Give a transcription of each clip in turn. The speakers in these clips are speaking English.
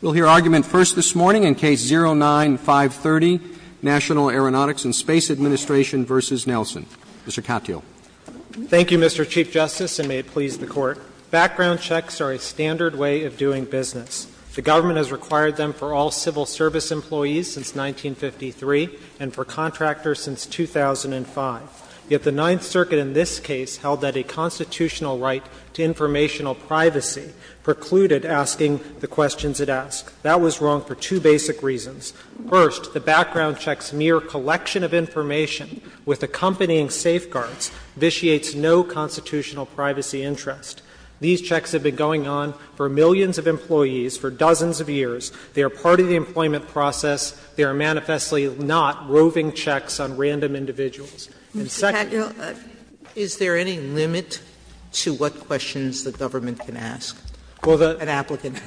We'll hear argument first this morning in Case 09-530, National Aeronautics and Space Administration v. Nelson. Mr. Katyal. Thank you, Mr. Chief Justice, and may it please the Court. Background checks are a standard way of doing business. The government has required them for all civil service employees since 1953 and for contractors since 2005. Yet the Ninth Circuit in this case held that a constitutional right to informational privacy precluded asking the questions it asked. That was wrong for two basic reasons. First, the background check's mere collection of information with accompanying safeguards vitiates no constitutional privacy interest. These checks have been going on for millions of employees for dozens of years. They are part of the employment process. They are manifestly not roving checks on random individuals. And second of all, is there any limit to what questions the government can ask an applicant?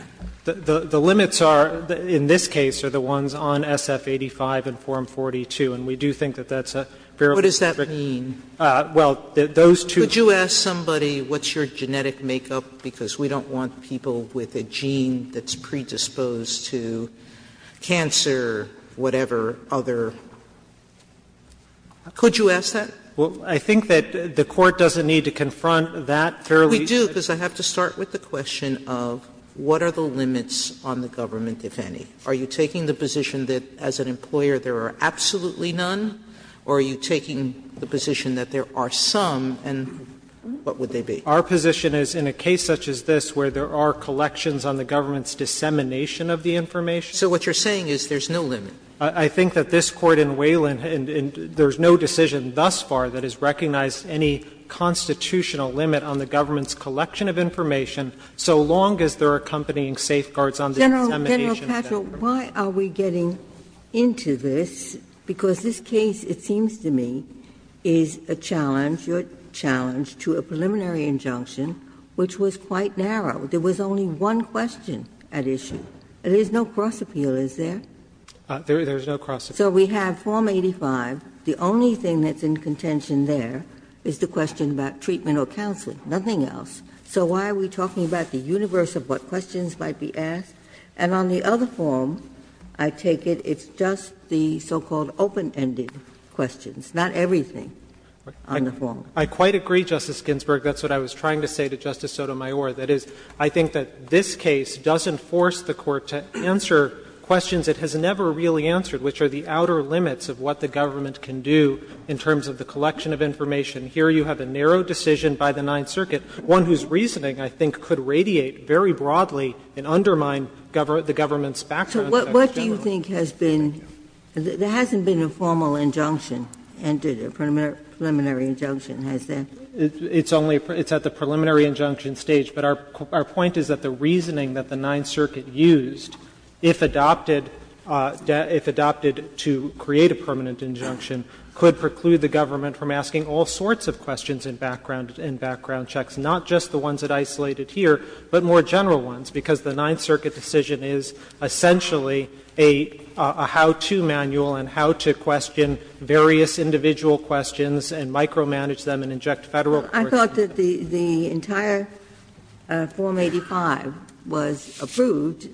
Well, the limits are, in this case, are the ones on SF-85 and Form 42. And we do think that that's a fairly strict What does that mean? Well, those two Could you ask somebody, what's your genetic makeup? Because we don't want people with a gene that's predisposed to cancer, whatever, other. Could you ask that? Well, I think that the Court doesn't need to confront that fairly We do, because I have to start with the question of what are the limits on the government, if any? Are you taking the position that as an employer there are absolutely none, or are you taking the position that there are some, and what would they be? Our position is in a case such as this where there are collections on the government's dissemination of the information. So what you're saying is there's no limit. I think that this Court in Wayland, there's no decision thus far that has recognized any constitutional limit on the government's collection of information, so long as they're accompanying safeguards on the dissemination of that information. General, why are we getting into this? Because this case, it seems to me, is a challenge, your challenge, to a preliminary injunction, which was quite narrow. There was only one question at issue. There's no cross-appeal, is there? There's no cross-appeal. So we have Form 85. The only thing that's in contention there is the question about treatment or counseling, nothing else. So why are we talking about the universe of what questions might be asked? And on the other form, I take it it's just the so-called open-ended questions, not everything on the form. I quite agree, Justice Ginsburg. That's what I was trying to say to Justice Sotomayor. That is, I think that this case doesn't force the Court to answer questions it has never really answered, which are the outer limits of what the government can do in terms of the collection of information. Here you have a narrow decision by the Ninth Circuit, one whose reasoning, I think, could radiate very broadly and undermine the government's background to that. Ginsburg. So what do you think has been the hasn't been a formal injunction, preliminary injunction, has there? It's only at the preliminary injunction stage, but our point is that the reasoning that the Ninth Circuit used, if adopted, if adopted to create a permanent injunction, could preclude the government from asking all sorts of questions in background checks, not just the ones that are isolated here, but more general ones, because the Ninth Circuit decision is essentially a how-to manual and how to question various individual questions and micromanage them and inject Federal coercion. Ginsburg. I thought that the entire Form 85 was approved.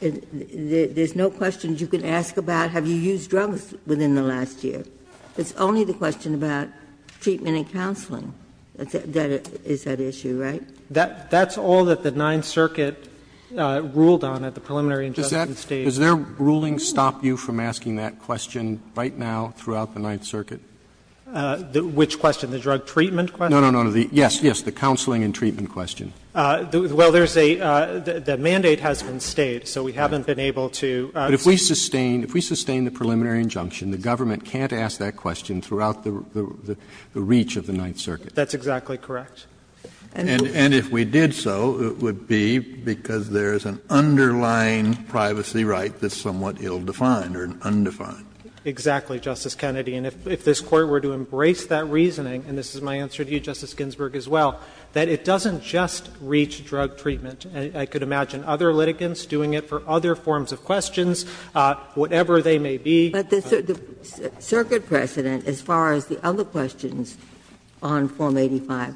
There's no questions you can ask about have you used drugs within the last year. It's only the question about treatment and counseling that is at issue, right? That's all that the Ninth Circuit ruled on at the preliminary injunction stage. Roberts Does their ruling stop you from asking that question right now throughout the Ninth Circuit? Which question, the drug treatment question? No, no, no, yes, yes, the counseling and treatment question. Well, there's a the mandate has been stayed, so we haven't been able to. But if we sustain, if we sustain the preliminary injunction, the government can't ask that question throughout the reach of the Ninth Circuit. That's exactly correct. And if we did so, it would be because there's an underlying privacy right that's somewhat ill-defined or undefined. Exactly, Justice Kennedy. And if this Court were to embrace that reasoning, and this is my answer to you, Justice Ginsburg, as well, that it doesn't just reach drug treatment. I could imagine other litigants doing it for other forms of questions, whatever they may be. But the circuit precedent, as far as the other questions on Form 85,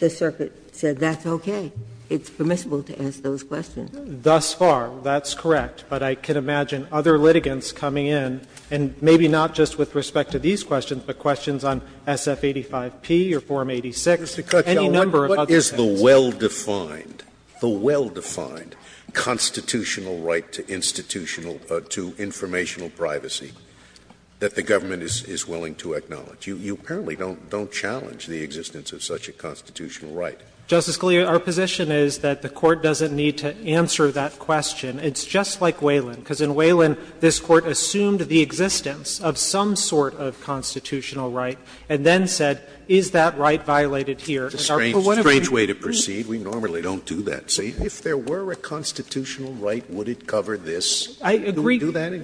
the circuit said that's okay. It's permissible to ask those questions. Thus far, that's correct. But I can imagine other litigants coming in, and maybe not just with respect to these questions, but questions on SF-85P or Form 86, any number of other things. What is the well-defined, the well-defined constitutional right to institutional or to informational privacy that the government is willing to acknowledge? You apparently don't challenge the existence of such a constitutional right. Justice Scalia, our position is that the Court doesn't need to answer that question. It's just like Wayland, because in Wayland, this Court assumed the existence of some sort of constitutional right, and then said, is that right violated here? And our point of view is that if there were a constitutional right, would it cover this? Can we do that?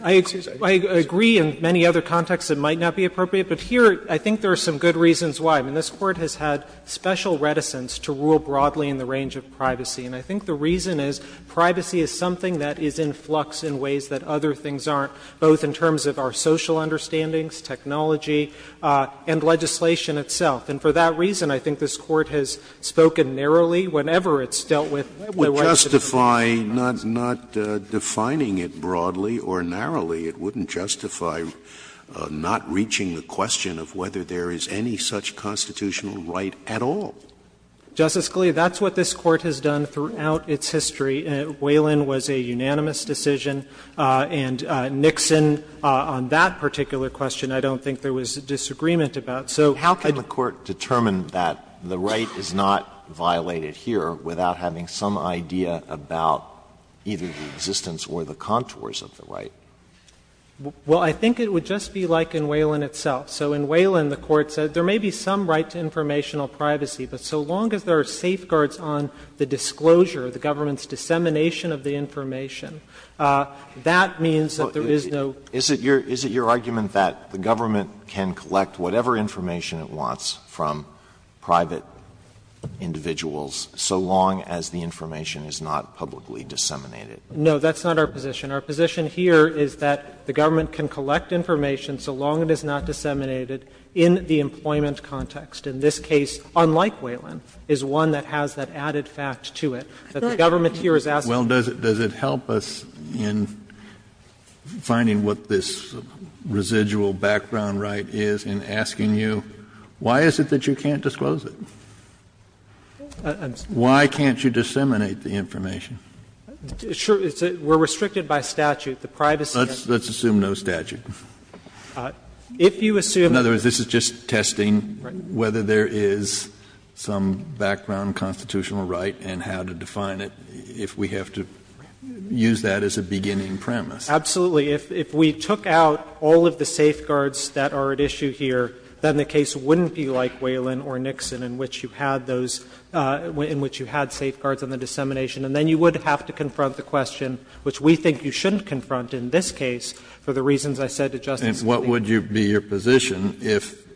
I agree in many other contexts it might not be appropriate, but here, I think there are some good reasons why. I mean, this Court has had special reticence to rule broadly in the range of privacy. And I think the reason is privacy is something that is in flux in ways that other things aren't, both in terms of our social understandings, technology, and legislation itself. And for that reason, I think this Court has spoken narrowly whenever it's dealt with the rights of the people. Scalia, it wouldn't justify not defining it broadly or narrowly. It wouldn't justify not reaching the question of whether there is any such constitutional right at all. Justice Scalia, that's what this Court has done throughout its history. Wayland was a unanimous decision, and Nixon, on that particular question, I don't think there was disagreement about. So how could you say that? The right is not violated here without having some idea about either the existence or the contours of the right. Well, I think it would just be like in Wayland itself. So in Wayland, the Court said there may be some right to informational privacy, but so long as there are safeguards on the disclosure, the government's dissemination of the information, that means that there is no. So the question is, does the government have the right to disseminate information from private individuals so long as the information is not publicly disseminated? No, that's not our position. Our position here is that the government can collect information so long it is not disseminated in the employment context. In this case, unlike Wayland, is one that has that added fact to it, that the government here is asking. Kennedy, well, does it help us in finding what this residual background right is in asking you, why is it that you can't disclose it? Why can't you disseminate the information? Sure. We're restricted by statute. The privacy of the statute. If you assume that the privacy of the statute is not disclosed, then you can't disclose it. In other words, this is just testing whether there is some background constitutional right and how to define it if we have to use that as a beginning premise. Absolutely. If we took out all of the safeguards that are at issue here, then the case wouldn't be like Wayland or Nixon in which you had those – in which you had safeguards on the dissemination. And then you would have to confront the question, which we think you shouldn't confront in this case, for the reasons I said to Justice Scalia. And what would be your position if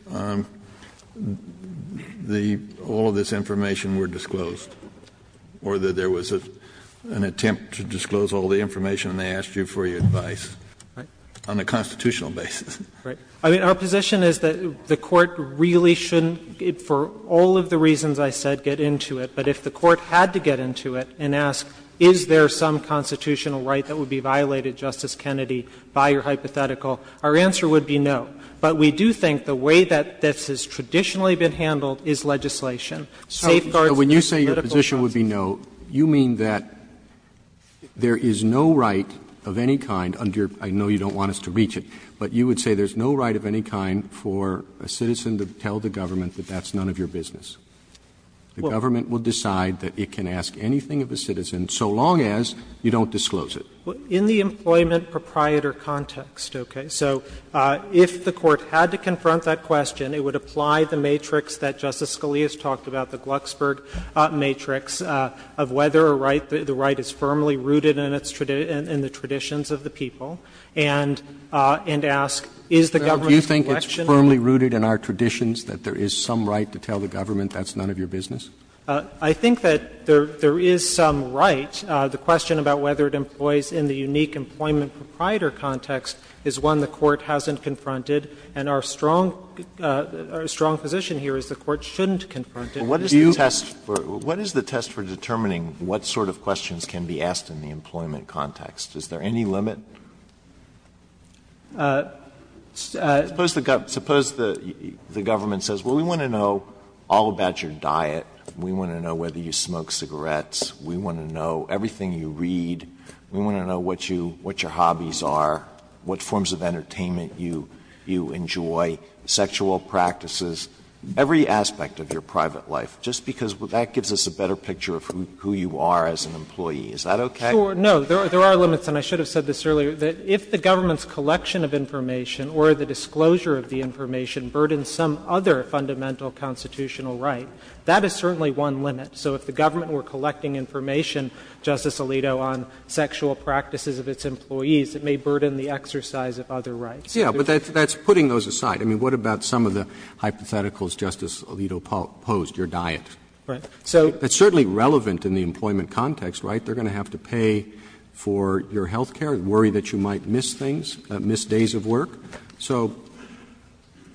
the – all of this information were disclosed? Or that there was an attempt to disclose all the information and they asked you for your advice on a constitutional basis? Right. I mean, our position is that the Court really shouldn't, for all of the reasons I said, get into it. But if the Court had to get into it and ask, is there some constitutional right that would be violated, Justice Kennedy, by your hypothetical, our answer would be no. But we do think the way that this has traditionally been handled is legislation. Safeguards and political rights. Roberts, so when you say your position would be no, you mean that there is no right of any kind under your – I know you don't want us to reach it, but you would say there's no right of any kind for a citizen to tell the government that that's none of your business? The government will decide that it can ask anything of a citizen so long as you don't disclose it. In the employment proprietor context, okay? So if the Court had to confront that question, it would apply the matrix that Justice Scalia has talked about, the Glucksberg matrix, of whether a right, the right is firmly rooted in the traditions of the people, and ask, is the government's collection in it? Roberts, do you think it's firmly rooted in our traditions that there is some right to tell the government that's none of your business? I think that there is some right. The question about whether it employs in the unique employment proprietor context is one the Court hasn't confronted, and our strong position here is the Court shouldn't confront it. Alito, what is the test for determining what sort of questions can be asked in the employment context? Is there any limit? Suppose the government says, well, we want to know all about your diet, we want to know whether you smoke cigarettes, we want to know everything you read, we want to know what your hobbies are, what forms of entertainment you enjoy, sexual practices, every aspect of your private life, just because that gives us a better picture of who you are as an employee. Is that okay? Sure. No. There are limits, and I should have said this earlier, that if the government's collection of information or the disclosure of the information burdens some other fundamental constitutional right, that is certainly one limit. So if the government were collecting information, Justice Alito, on sexual practices of its employees, it may burden the exercise of other rights. Yes, but that's putting those aside. I mean, what about some of the hypotheticals Justice Alito posed, your diet? Right. So it's certainly relevant in the employment context, right? They're going to have to pay for your health care, worry that you might miss things, miss days of work. So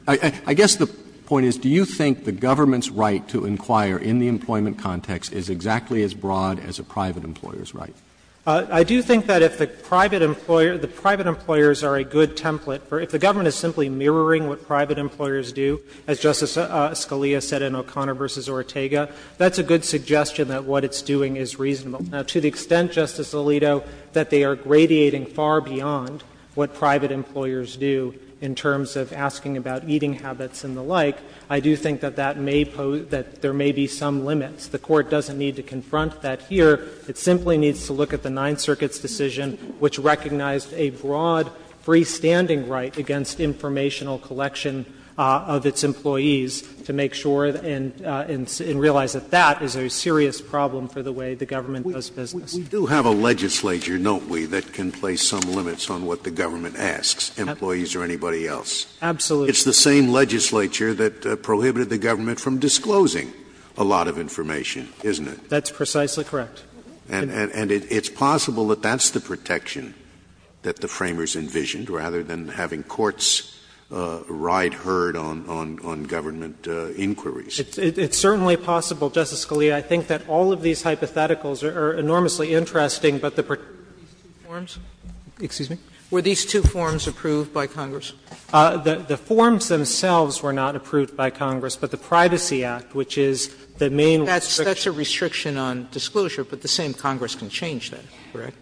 I guess the point is, do you think the government's right to inquire in the employment context is exactly as broad as a private employer's right? I do think that if the private employer, the private employers are a good template for, if the government is simply mirroring what private employers do, as Justice Scalia said in O'Connor v. Ortega, that's a good suggestion that what it's doing is reasonable. Now, to the extent, Justice Alito, that they are gradiating far beyond what private employers do in terms of asking about eating habits and the like, I do think that that may pose, that there may be some limits. The Court doesn't need to confront that here. It simply needs to look at the Ninth Circuit's decision, which recognized a broad freestanding right against informational collection of its employees, to make sure and realize that that is a serious problem for the way the government does business. Scalia. We do have a legislature, don't we, that can place some limits on what the government asks employees or anybody else? Katyal. Absolutely. Scalia. It's the same legislature that prohibited the government from disclosing a lot of information, isn't it? Katyal. That's precisely correct. And it's possible that that's the protection that the Framers envisioned, rather than having courts ride herd on government inquiries. It's certainly possible, Justice Scalia. I think that all of these hypotheticals are enormously interesting, but the particular forms. Excuse me? Were these two forms approved by Congress? The forms themselves were not approved by Congress, but the Privacy Act, which is the main restriction. Sotomayor, that's a restriction on disclosure, but the same Congress can change that, correct?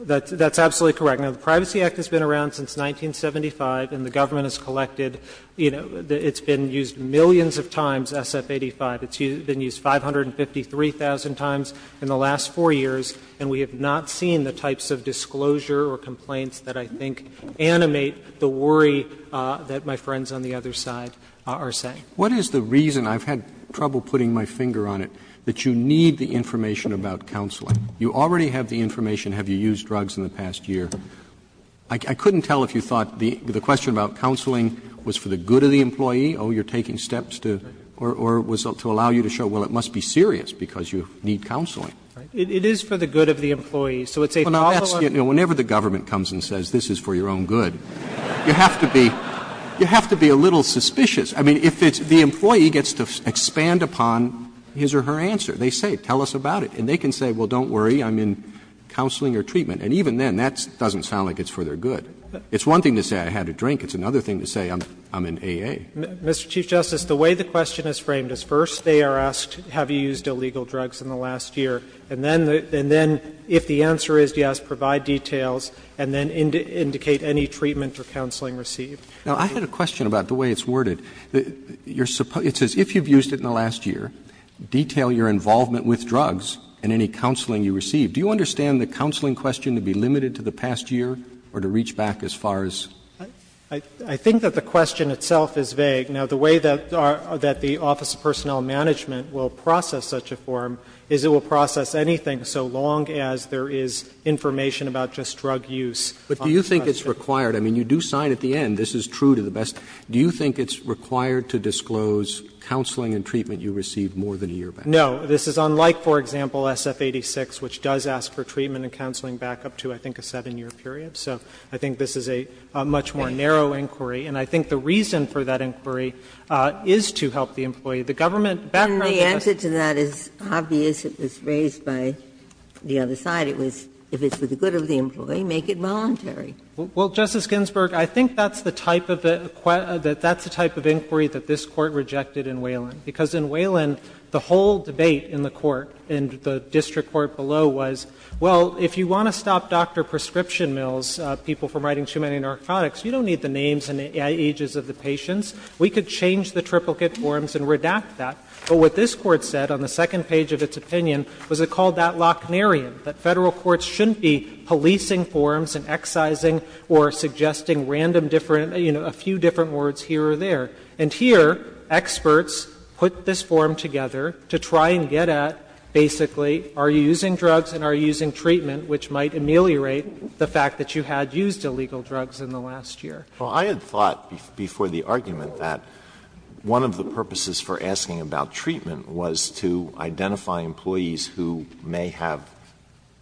That's absolutely correct. Now, the Privacy Act has been around since 1975, and the government has collected you know, it's been used millions of times, SF-85. It's been used 553,000 times in the last 4 years, and we have not seen the types of disclosure or complaints that I think animate the worry that my friends on the other side are saying. Roberts What is the reason, I've had trouble putting my finger on it, that you need the information about counseling? You already have the information, have you used drugs in the past year? I couldn't tell if you thought the question about counseling was for the good of the employee, oh, you're taking steps to, or was it to allow you to show, well, it must be serious because you need counseling. It is for the good of the employee, so it's a problem. Whenever the government comes and says, this is for your own good, you have to be a little suspicious. I mean, if it's the employee gets to expand upon his or her answer, they say, tell us about it, and they can say, well, don't worry, I'm in counseling or treatment, and even then that doesn't sound like it's for their good. It's one thing to say I had a drink. It's another thing to say I'm in AA. Katyal, Mr. Chief Justice, the way the question is framed is first they are asked, have you used illegal drugs in the last year, and then if the answer is yes, provide details, and then indicate any treatment or counseling received. Now, I had a question about the way it's worded. It says, if you've used it in the last year, detail your involvement with drugs and any counseling you received. Do you understand the counseling question to be limited to the past year or to reach back as far as? I think that the question itself is vague. Now, the way that the Office of Personnel Management will process such a form is it will process anything so long as there is information about just drug use. But do you think it's required? I mean, you do sign at the end. This is true to the best. Do you think it's required to disclose counseling and treatment you received more than a year back? No. This is unlike, for example, SF-86, which does ask for treatment and counseling back up to, I think, a 7-year period. So I think this is a much more narrow inquiry. And I think the reason for that inquiry is to help the employee. The government background to this is that it's obvious it was raised by the other side. It was if it's for the good of the employee, make it voluntary. Well, Justice Ginsburg, I think that's the type of inquiry that this Court rejected in Wayland. Because in Wayland, the whole debate in the court, in the district court below, was, well, if you want to stop Dr. Prescription Mills, people from writing too many narcotics, you don't need the names and ages of the patients. We could change the triplicate forms and redact that. But what this Court said on the second page of its opinion was it called that or suggesting random different, you know, a few different words here or there. And here, experts put this form together to try and get at, basically, are you using drugs and are you using treatment, which might ameliorate the fact that you had used illegal drugs in the last year. Alito, I had thought before the argument that one of the purposes for asking about treatment was to identify employees who may have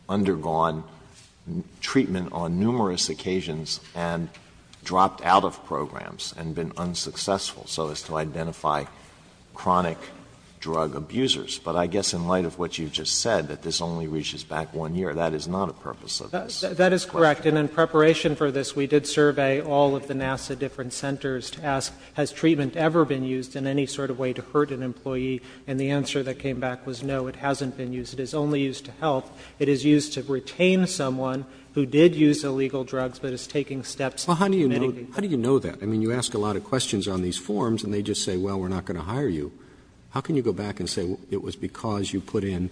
undergone treatment on numerous occasions and dropped out of programs and been unsuccessful, so as to identify chronic drug abusers. But I guess in light of what you've just said, that this only reaches back one year, that is not a purpose of this. That is correct. And in preparation for this, we did survey all of the NASA different centers to ask, has treatment ever been used in any sort of way to hurt an employee? And the answer that came back was no, it hasn't been used. It is only used to help. It is used to retain someone who did use illegal drugs, but is taking steps to mitigate the impact. Roberts. How do you know that? I mean, you ask a lot of questions on these forms and they just say, well, we're not going to hire you. How can you go back and say it was because you put in,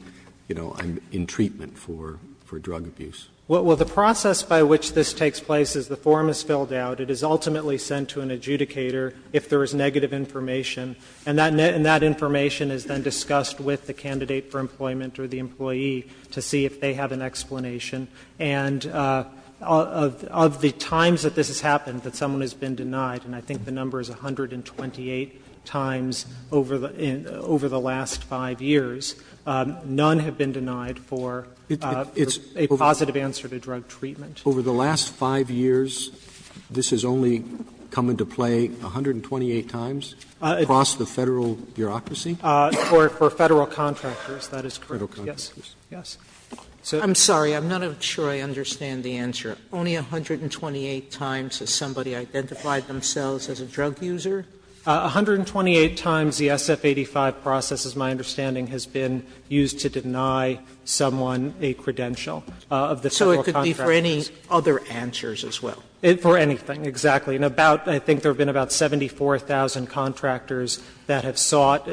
you know, in treatment for drug abuse? Well, the process by which this takes place is the form is filled out. It is ultimately sent to an adjudicator if there is negative information. And that information is then discussed with the candidate for employment or the employee to see if they have an explanation. And of the times that this has happened that someone has been denied, and I think the number is 128 times over the last 5 years, none have been denied for a positive answer to drug treatment. Over the last 5 years, this has only come into play 128 times across the Federal bureaucracy? For Federal contractors, that is correct. Yes, yes. Sotomayor, I'm sorry, I'm not sure I understand the answer. Only 128 times has somebody identified themselves as a drug user? 128 times the SF-85 process, as my understanding, has been used to deny someone a credential of the Federal contractors. So it could be for any other answers as well? For anything, exactly. And about, I think there have been about 74,000 contractors that have sought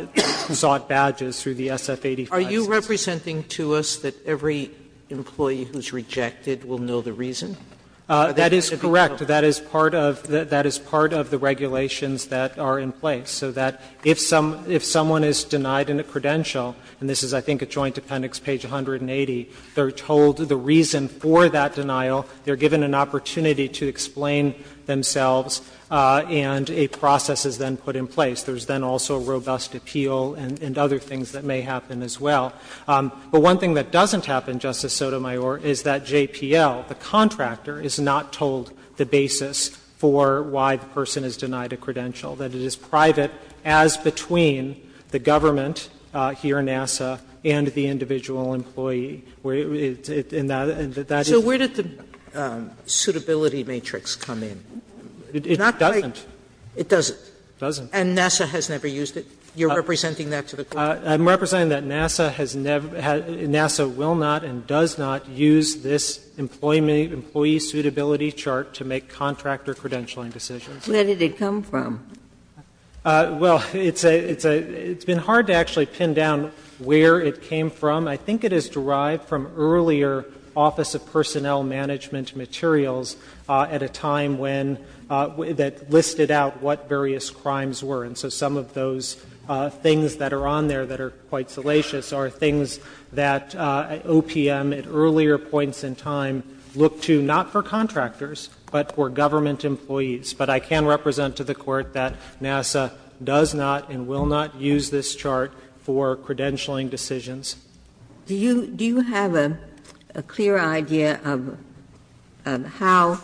badges through the SF-85. Are you representing to us that every employee who is rejected will know the reason? That is correct. That is part of the regulations that are in place. So that if someone is denied a credential, and this is, I think, at Joint Appendix page 180, they are told the reason for that denial, they are given an opportunity to explain themselves, and a process is then put in place. There is then also robust appeal and other things that may happen as well. But one thing that doesn't happen, Justice Sotomayor, is that JPL, the contractor, is not told the basis for why the person is denied a credential, that it is private as between the government here at NASA and the individual employee. And that is the reason. So where did the suitability matrix come in? It doesn't. It doesn't. It doesn't. And NASA has never used it. You are representing that to the Court? I'm representing that NASA has never had, NASA will not and does not use this employee suitability chart to make contractor credentialing decisions. Where did it come from? Well, it's a, it's a, it's been hard to actually pin down where it came from. I think it is derived from earlier Office of Personnel Management materials at a time when, that listed out what various crimes were. And so some of those things that are on there that are quite salacious are things that OPM at earlier points in time looked to not for contractors, but for government employees. But I can represent to the Court that NASA does not and will not use this chart for credentialing decisions. Ginsburg. Do you, do you have a clear idea of how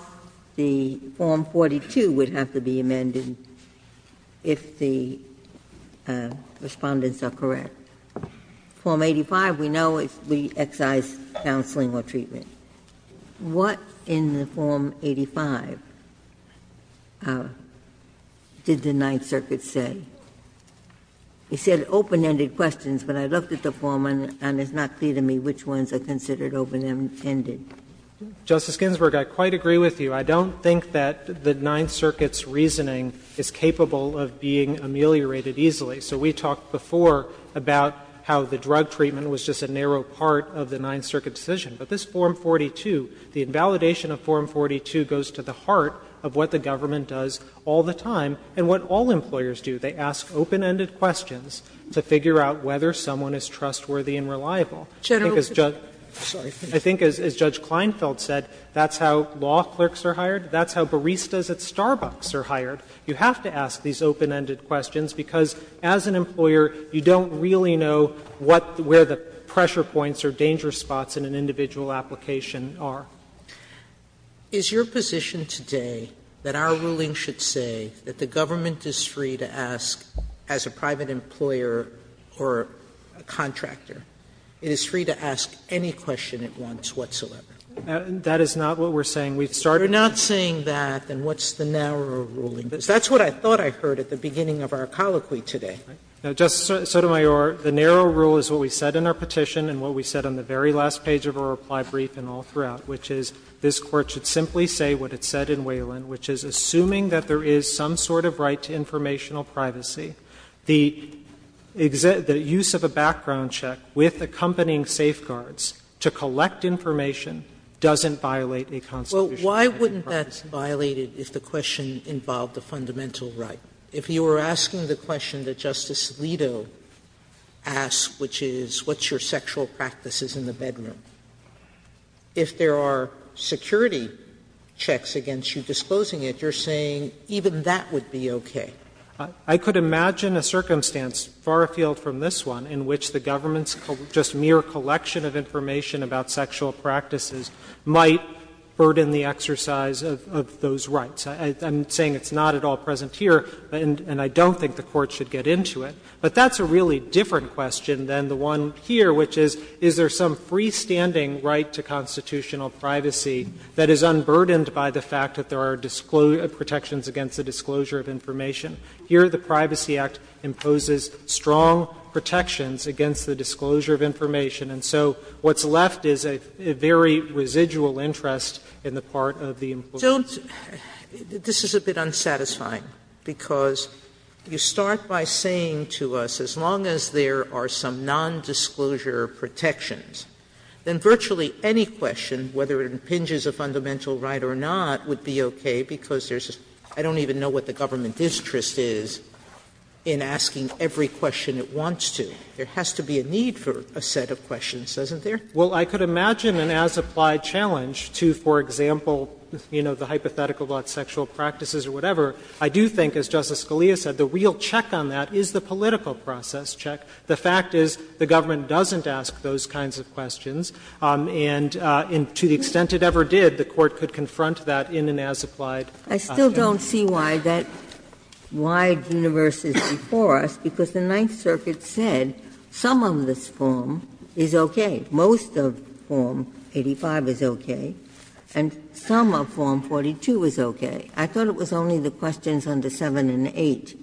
the Form 42 would have to be amended if the Respondents are correct? Form 85, we know, we excise counseling or treatment. What in the Form 85 did the Ninth Circuit say? It said open-ended questions, but I looked at the form and it's not clear to me which ones are considered open-ended. Justice Ginsburg, I quite agree with you. I don't think that the Ninth Circuit's reasoning is capable of being ameliorated easily. So we talked before about how the drug treatment was just a narrow part of the Ninth Circuit decision. But this Form 42, the invalidation of Form 42 goes to the heart of what the government does all the time and what all employers do. They ask open-ended questions to figure out whether someone is trustworthy and reliable. I think as Judge Kleinfeld said, that's how law clerks are hired, that's how baristas at Starbucks are hired. You have to ask these open-ended questions, because as an employer, you don't really know what, where the pressure points or danger spots in an individual application are. Sotomayor, is your position today that our ruling should say that the government is free to ask, as a private employer or a contractor, it is free to ask any question it wants whatsoever? That is not what we're saying. We've started with that. We're not saying that. Then what's the narrow ruling? That's what I thought I heard at the beginning of our colloquy today. Justice Sotomayor, the narrow rule is what we said in our petition and what we said on the very last page of our reply brief and all throughout, which is this Court should simply say what it said in Wayland, which is, assuming that there is some sort of right to informational privacy, the use of a background check with accompanying safeguards to collect information doesn't violate a constitutional right. Sotomayor, why wouldn't that violate it if the question involved a fundamental right? If you were asking the question that Justice Alito asked, which is what's your sexual practices in the bedroom, if there are security checks against you disposing of it, you're saying even that would be okay? I could imagine a circumstance far afield from this one in which the government's just mere collection of information about sexual practices might burden the exercise of those rights. I'm saying it's not at all present here, and I don't think the Court should get into it. But that's a really different question than the one here, which is, is there some freestanding right to constitutional privacy that is unburdened by the fact that there are protections against the disclosure of information? Here, the Privacy Act imposes strong protections against the disclosure of information, and so what's left is a very residual interest in the part of the imposition. Sotomayor, this is a bit unsatisfying, because you start by saying to us, as long as there are some nondisclosure protections, then virtually any question, whether it impinges a fundamental right or not, would be okay, because there's a – I don't even know what the government's interest is in asking every question it wants to. There has to be a need for a set of questions, doesn't there? Well, I could imagine an as-applied challenge to, for example, you know, the hypothetical about sexual practices or whatever. I do think, as Justice Scalia said, the real check on that is the political process check. The fact is the government doesn't ask those kinds of questions, and to the extent it ever did, the Court could confront that in an as-applied challenge. I still don't see why that wide universe is before us, because the Ninth Circuit said some of this form is okay. Most of Form 85 is okay, and some of Form 42 is okay. I thought it was only the questions under 7 and 8,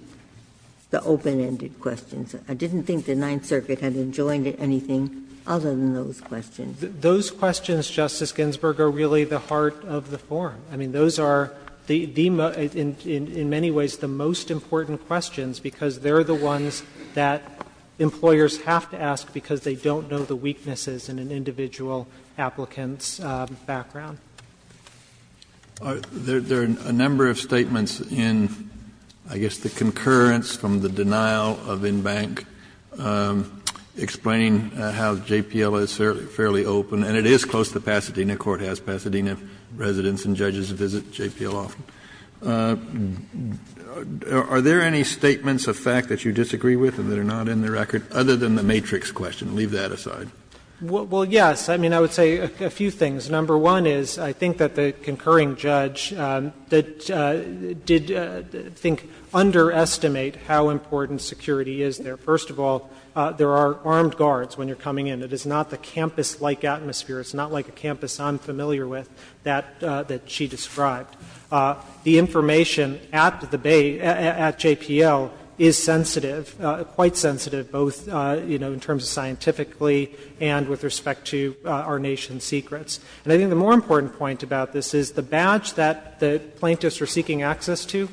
the open-ended questions. I didn't think the Ninth Circuit had enjoined anything other than those questions. Those questions, Justice Ginsburg, are really the heart of the form. I mean, those are the – in many ways the most important questions, because they're the ones that employers have to ask because they don't know the weaknesses in an individual applicant's background. There are a number of statements in, I guess, the concurrence from the denial of in-bank explaining how JPL is fairly open, and it is close to Pasadena. The Court has Pasadena residents and judges visit JPL often. Are there any statements of fact that you disagree with and that are not in the record other than the matrix question? Leave that aside. Well, yes. I mean, I would say a few things. Number one is I think that the concurring judge that did, I think, underestimate how important security is there. First of all, there are armed guards when you're coming in. It is not the campus-like atmosphere. It's not like a campus I'm familiar with that she described. The information at the Bay, at JPL, is sensitive, quite sensitive, both, you know, in terms of scientifically and with respect to our nation's secrets. And I think the more important point about this is the badge that the plaintiffs are going to give access to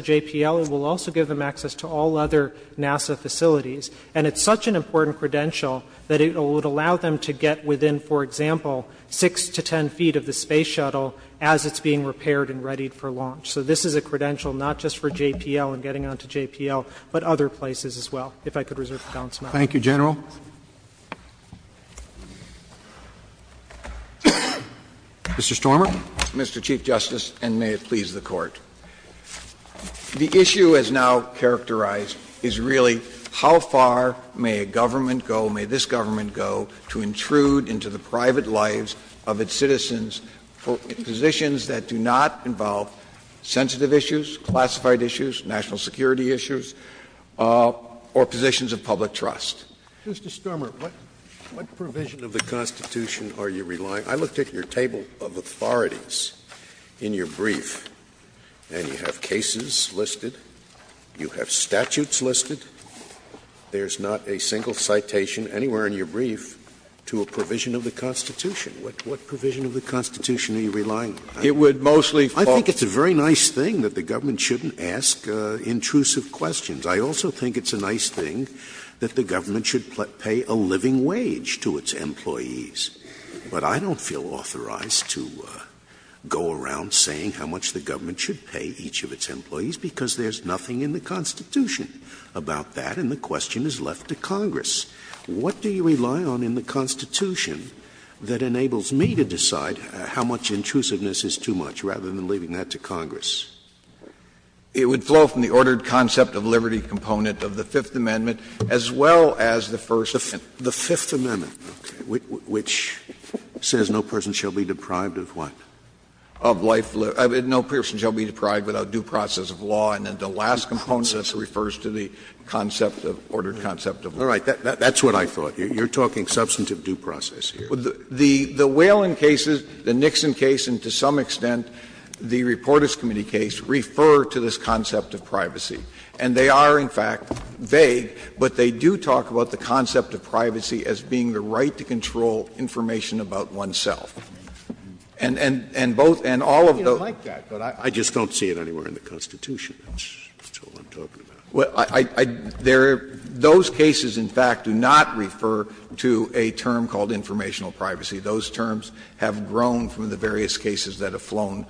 JPL, it will also give them access to all other NASA facilities. And it's such an important credential that it would allow them to get within, for example, 6 to 10 feet of the space shuttle as it's being repaired and readied for launch. So this is a credential not just for JPL and getting onto JPL, but other places as well, if I could reserve the balance of my time. Thank you, General. Mr. Stormer. Mr. Chief Justice, and may it please the Court. The issue as now characterized is really how far may a government go, may this government go, to intrude into the private lives of its citizens for positions that do not involve sensitive issues, classified issues, national security issues, or positions of public trust? Mr. Stormer, what provision of the Constitution are you relying on? I looked at your table of authorities in your brief, and you have cases listed, you have statutes listed. There's not a single citation anywhere in your brief to a provision of the Constitution. What provision of the Constitution are you relying on? It would mostly fall to the government. I think it's a very nice thing that the government shouldn't ask intrusive questions. I also think it's a nice thing that the government should pay a living wage to its employees. But I don't feel authorized to go around saying how much the government should pay each of its employees, because there's nothing in the Constitution about that, and the question is left to Congress. What do you rely on in the Constitution that enables me to decide how much intrusiveness is too much, rather than leaving that to Congress? It would flow from the ordered concept of liberty component of the Fifth Amendment as well as the First Amendment. Scalia The Fifth Amendment, which says no person shall be deprived of what? Of life or no person shall be deprived without due process of law, and then the last component of this refers to the concept of ordered concept of liberty. That's what I thought. You're talking substantive due process here. The Whelan cases, the Nixon case, and to some extent the Reporters Committee case refer to this concept of privacy. And they are, in fact, vague, but they do talk about the concept of privacy as being the right to control information about oneself. And both and all of those. Scalia I don't like that, but I just don't see it anywhere in the Constitution. That's all I'm talking about. Scalia Those cases, in fact, do not refer to a term called informational privacy. Those terms have grown from the various cases that have flown,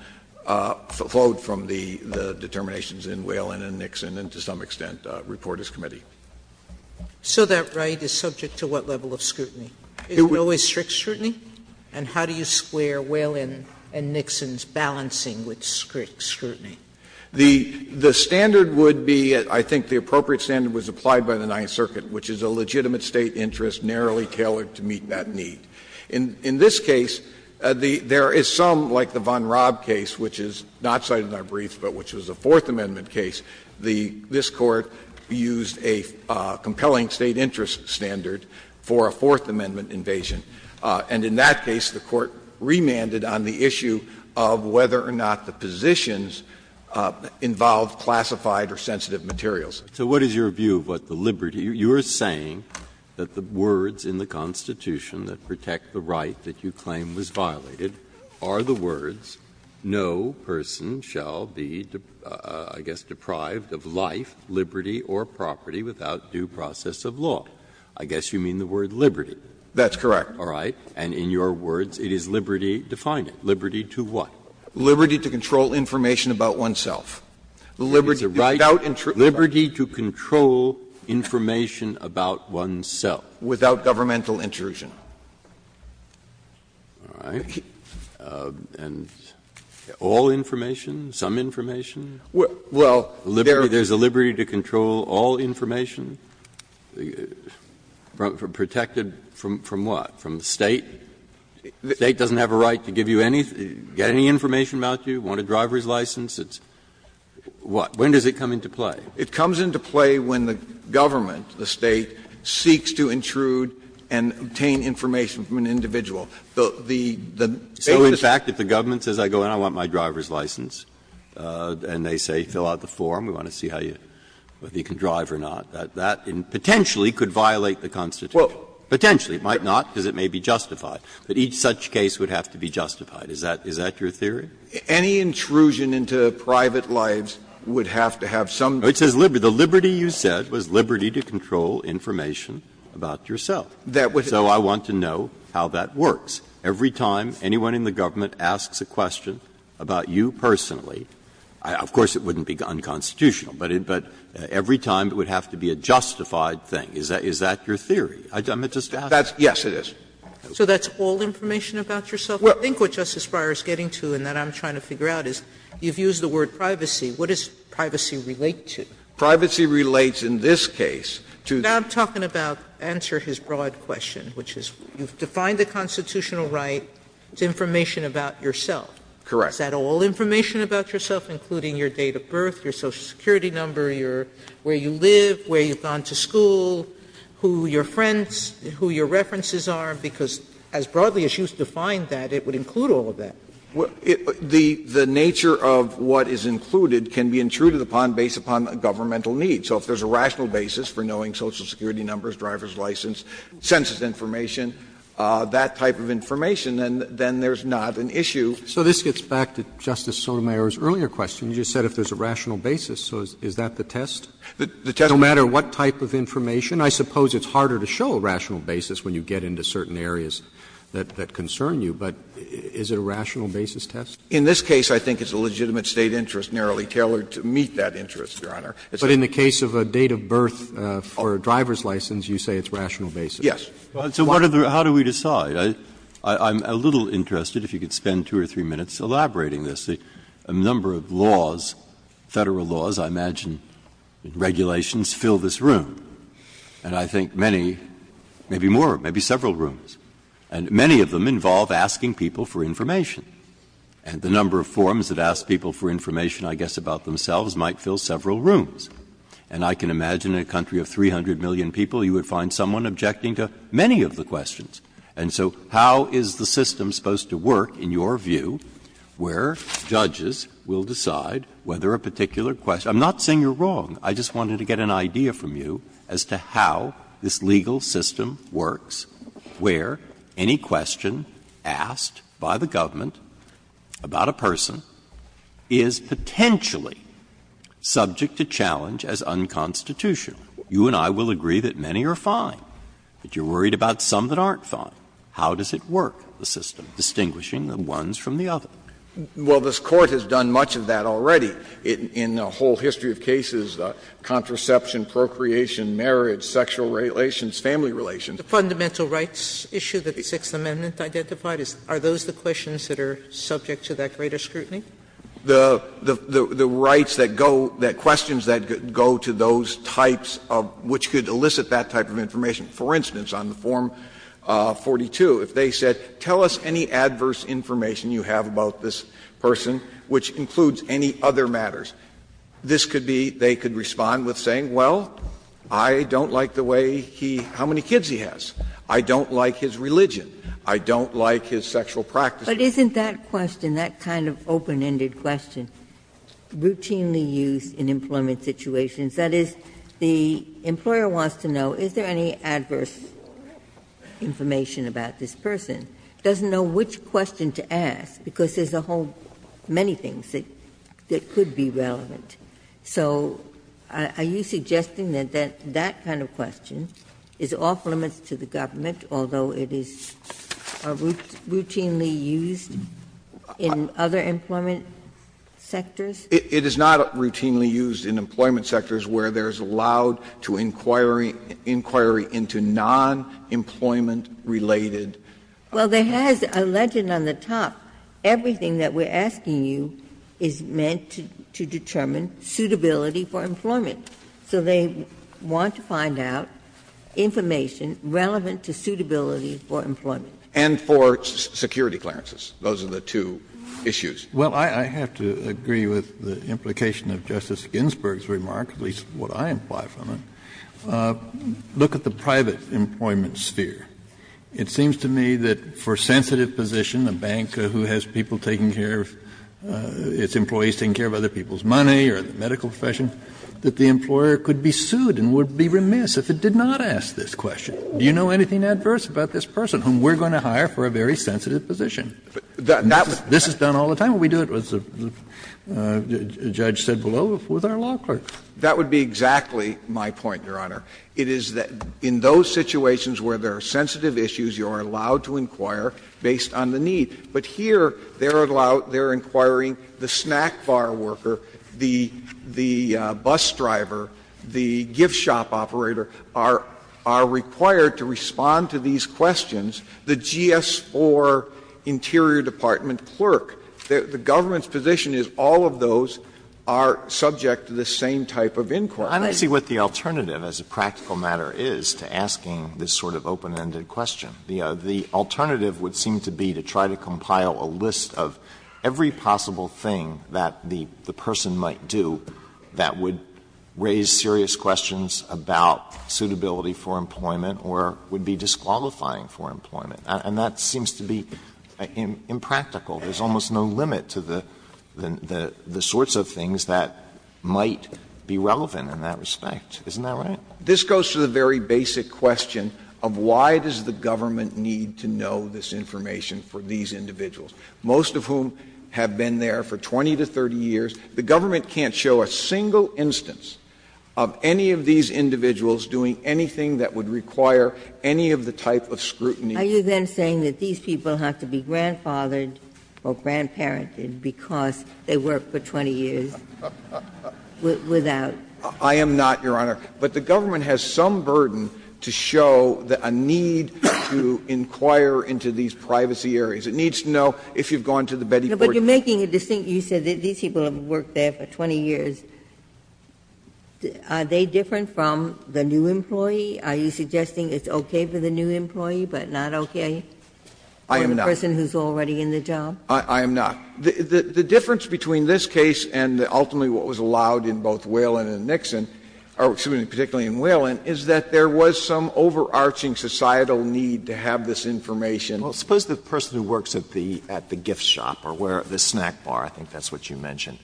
flowed from the determinations in Whelan and Nixon and to some extent Reporters Committee. Sotomayor So that right is subject to what level of scrutiny? Is it always strict scrutiny? And how do you square Whelan and Nixon's balancing with strict scrutiny? Scalia The standard would be, I think the appropriate standard was applied by the Ninth Circuit, which is a legitimate State interest narrowly tailored to meet that need. In this case, there is some, like the Von Raab case, which is not cited in our briefs, but which was a Fourth Amendment case, the this Court used a compelling State interest standard for a Fourth Amendment invasion. And in that case, the Court remanded on the issue of whether or not the positions involved classified or sensitive materials. Breyer So what is your view of what the liberty? You are saying that the words in the Constitution that protect the right that you can't be, I guess, deprived of life, liberty, or property without due process of law. I guess you mean the word liberty. Scalia That's correct. Breyer All right. And in your words, it is liberty, define it, liberty to what? Scalia Liberty to control information about oneself. Liberty without intrusion. Breyer It is the right liberty to control information about oneself. Scalia Without governmental intrusion. Breyer All right. And all information, some information? There is a liberty to control all information, protected from what? From the State? The State doesn't have a right to give you any, get any information about you, want a driver's license? When does it come into play? Breyer It comes into play when the government, the State, seeks to intrude and obtain information from an individual. The, the, the, the State has to. Breyer So, in fact, if the government says, I go in, I want my driver's license, and they say, fill out the form, we want to see how you, whether you can drive or not, that, that potentially could violate the Constitution. Scalia Well. Breyer Potentially. It might not, because it may be justified. But each such case would have to be justified. Is that, is that your theory? Scalia Any intrusion into private lives would have to have some. Breyer No, it says liberty. The liberty you said was liberty to control information about yourself. Scalia That would. Breyer And you would want to know how that works. Every time anyone in the government asks a question about you personally, of course, it wouldn't be unconstitutional, but it, but every time it would have to be a justified thing. Is that, is that your theory? I'm just asking. Scalia That's, yes, it is. Sotomayor So that's all information about yourself? I think what Justice Breyer is getting to, and that I'm trying to figure out, is you've used the word privacy. What does privacy relate to? Breyer Privacy relates in this case to. Sotomayor But I'm talking about, answer his broad question, which is you've defined the constitutional right to information about yourself. Breyer Correct. Sotomayor Is that all information about yourself, including your date of birth, your Social Security number, your, where you live, where you've gone to school, who your friends, who your references are? Because as broadly as you've defined that, it would include all of that. Breyer The, the nature of what is included can be intruded upon, based upon governmental needs. So if there's a rational basis for knowing Social Security numbers, driver's license, census information, that type of information, then there's not an issue. Roberts So this gets back to Justice Sotomayor's earlier question. You just said if there's a rational basis. So is that the test? Breyer The test is no matter what type of information. I suppose it's harder to show a rational basis when you get into certain areas that concern you, but is it a rational basis test? Breyer In this case, I think it's a legitimate State interest narrowly tailored to meet that interest, Your Honor. Roberts But in the case of a date of birth for a driver's license, you say it's rational basis. Breyer Yes. Breyer So what are the, how do we decide? I'm a little interested, if you could spend two or three minutes, elaborating this. A number of laws, Federal laws, I imagine, regulations fill this room. And I think many, maybe more, maybe several rooms, and many of them involve asking people for information. And the number of forms that ask people for information, I guess, about themselves might fill several rooms. And I can imagine in a country of 300 million people, you would find someone objecting to many of the questions. And so how is the system supposed to work, in your view, where judges will decide whether a particular question – I'm not saying you're wrong. I just wanted to get an idea from you as to how this legal system works, where any question asked by the government about a person is potentially subject to challenge as unconstitutional. You and I will agree that many are fine, but you're worried about some that aren't fine. How does it work, the system, distinguishing the ones from the other? Phillips Well, this Court has done much of that already in a whole history of cases, contraception, procreation, marriage, sexual relations, family relations. Sotomayor The fundamental rights issue that the Sixth Amendment identified, are those the questions that are subject to that greater scrutiny? Phillips The rights that go – the questions that go to those types of – which could elicit that type of information. For instance, on the Form 42, if they said, tell us any adverse information you have about this person, which includes any other matters, this could be – they could respond with saying, well, I don't like the way he – how many kids he has. I don't like his religion. I don't like his sexual practices. Ginsburg But isn't that question, that kind of open-ended question, routinely used in employment situations? That is, the employer wants to know is there any adverse information about this person? Doesn't know which question to ask, because there's a whole many things that could be relevant. So are you suggesting that that kind of question is off-limits to the government, although it is routinely used in other employment sectors? Phillips It is not routinely used in employment sectors where there is allowed to inquiry into non-employment-related. Ginsburg Well, there has, alleged on the top, everything that we're asking you is meant to determine suitability for employment. So they want to find out information relevant to suitability for employment. Kennedy And for security clearances. Those are the two issues. Kennedy Well, I have to agree with the implication of Justice Ginsburg's remark, at least what I imply from it. Look at the private employment sphere. It seems to me that for sensitive position, a bank who has people taking care of its employees, taking care of other people's money or the medical profession, that the employer could be sued and would be remiss if it did not ask this question, do you know anything adverse about this person whom we're going to hire for a very sensitive position? This is done all the time. We do it, as the judge said below, with our law clerks. Phillips That would be exactly my point, Your Honor. It is that in those situations where there are sensitive issues, you are allowed to inquire based on the need. But here, they are allowed, they are inquiring the snack bar worker, the bus driver, the gift shop operator, are required to respond to these questions, the GS-4 interior department clerk. The government's position is all of those are subject to the same type of inquiry. Alito I don't see what the alternative as a practical matter is to asking this sort of open-ended question. The alternative would seem to be to try to compile a list of every possible thing that the person might do that would raise serious questions about suitability for employment or would be disqualifying for employment. And that seems to be impractical. There's almost no limit to the sorts of things that might be relevant in that respect. Isn't that right? This goes to the very basic question of why does the government need to know this information for these individuals, most of whom have been there for 20 to 30 years. The government can't show a single instance of any of these individuals doing anything that would require any of the type of scrutiny. Ginsburg Are you then saying that these people have to be grandfathered or grandparented because they worked for 20 years without? I am not, Your Honor. But the government has some burden to show a need to inquire into these privacy areas. It needs to know if you've gone to the Betty Board. Ginsburg But you're making a distinct use of it. These people have worked there for 20 years. Are they different from the new employee? Are you suggesting it's okay for the new employee, but not okay for the person who's already in the job? I am not. The difference between this case and ultimately what was allowed in both Whelan and Nixon, or excuse me, particularly in Whelan, is that there was some overarching societal need to have this information. Alito Suppose the person who works at the gift shop or the snack bar, I think that's what you mentioned,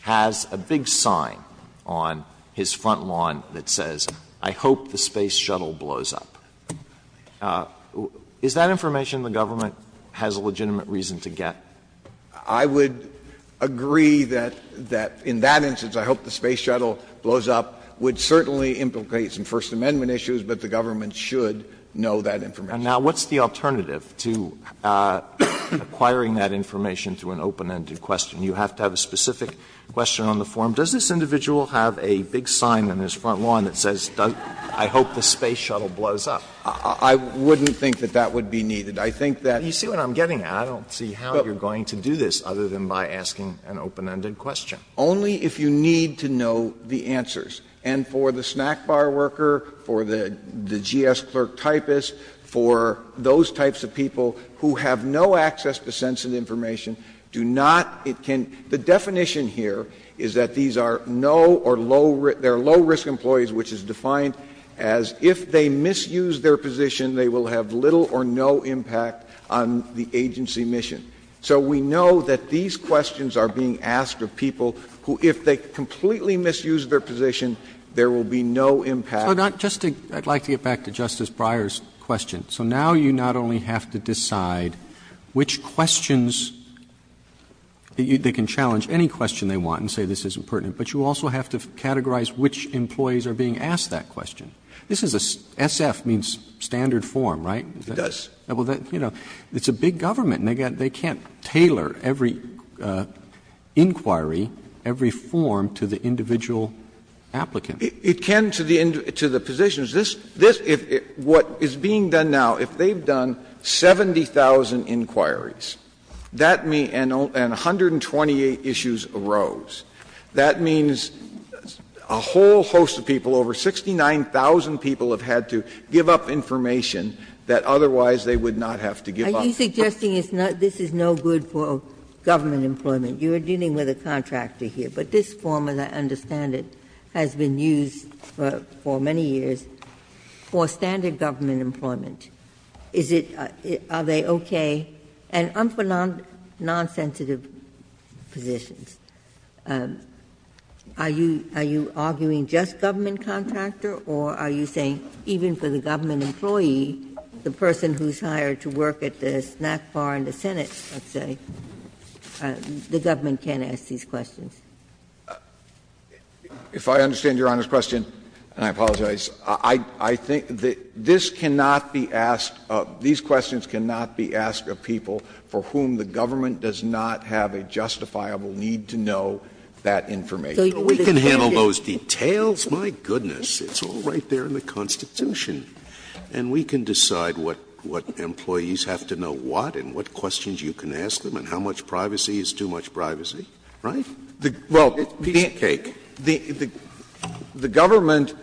has a big sign on his front lawn that says, I hope the space shuttle blows up. Is that information the government has a legitimate reason to get? I would agree that in that instance, I hope the space shuttle blows up, would certainly implicate some First Amendment issues, but the government should know that information. Alito Now, what's the alternative to acquiring that information through an open-ended question? You have to have a specific question on the form. Does this individual have a big sign on his front lawn that says, I hope the space shuttle blows up? I wouldn't think that that would be needed. I think that's You see what I'm getting at. I don't see how you're going to do this other than by asking an open-ended question. Alito Only if you need to know the answers. And for the snack bar worker, for the GS clerk typist, for those types of people who have no access to sensitive information, do not, it can the definition here is that these are no or low, they are low-risk employees, which is defined as if they misuse their position, they will have little or no impact on the agency mission. So we know that these questions are being asked of people who, if they completely misuse their position, there will be no impact. Roberts I'd like to get back to Justice Breyer's question. So now you not only have to decide which questions, they can challenge any question they want and say this isn't pertinent, but you also have to categorize which employees are being asked that question. This is a SF means standard form, right? Alito It does. Roberts Well, you know, it's a big government and they can't tailor every inquiry, every form to the individual applicant. Alito It can to the positions. This, what is being done now, if they've done 70,000 inquiries, that means, and 128 issues arose, that means a whole host of people, over 69,000 people have had to give up information that otherwise they would not have to give up. Ginsburg Are you suggesting this is no good for government employment? You are dealing with a contractor here. But this form, as I understand it, has been used for many years for standard government employment. Is it, are they okay? And I'm for non-sensitive positions. Are you, are you arguing just government contractor or are you saying even for the government employee, the person who's hired to work at the snack bar in the Senate, let's say, the government can't ask these questions? Alito If I understand Your Honor's question, and I apologize, I think this cannot be asked, these questions cannot be asked of people for whom the government does not have a justifiable need to know that information. Scalia We can handle those details, my goodness, it's all right there in the Constitution. And we can decide what employees have to know what and what questions you can ask them and how much privacy is too much privacy, right? Well, the government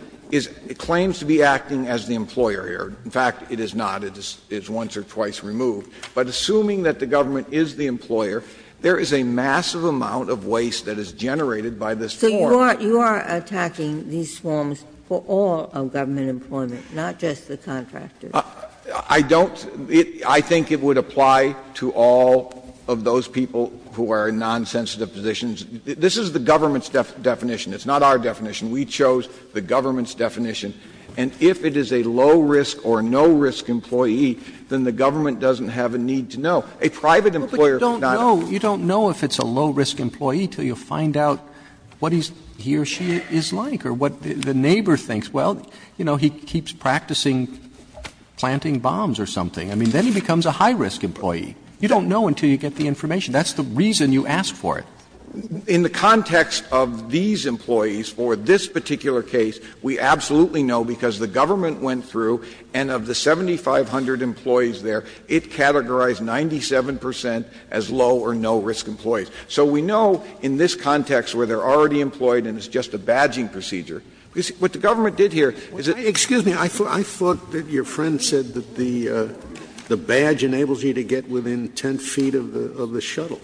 claims to be acting as the employer here. In fact, it is not. It is once or twice removed. But assuming that the government is the employer, there is a massive amount of waste that is generated by this form. Ginsburg So you are attacking these forms for all of government employment, not just the contractors? Alito I don't. I think it would apply to all of those people who are in non-sensitive positions. This is the government's definition. It's not our definition. We chose the government's definition. And if it is a low-risk or no-risk employee, then the government doesn't have a need to know. A private employer is not a— Roberts You don't know if it's a low-risk employee until you find out what he or she is like or what the neighbor thinks. Well, you know, he keeps practicing planting bombs or something. I mean, then he becomes a high-risk employee. You don't know until you get the information. That's the reason you ask for it. In the context of these employees for this particular case, we absolutely know because the government went through, and of the 7,500 employees there, it categorized 97 percent as low- or no-risk employees. So we know in this context where they are already employed and it's just a badging procedure. What the government did here is that— Scalia Excuse me. I thought that your friend said that the badge enables you to get within 10 feet of the shuttle.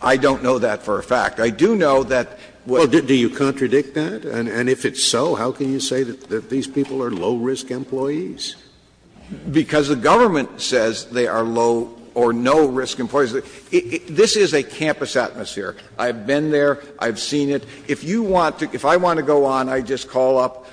I don't know that for a fact. I do know that what— Scalia Well, do you contradict that? And if it's so, how can you say that these people are low-risk employees? Because the government says they are low- or no-risk employees. This is a campus atmosphere. I've been there. I've seen it. If you want to — if I want to go on, I just call up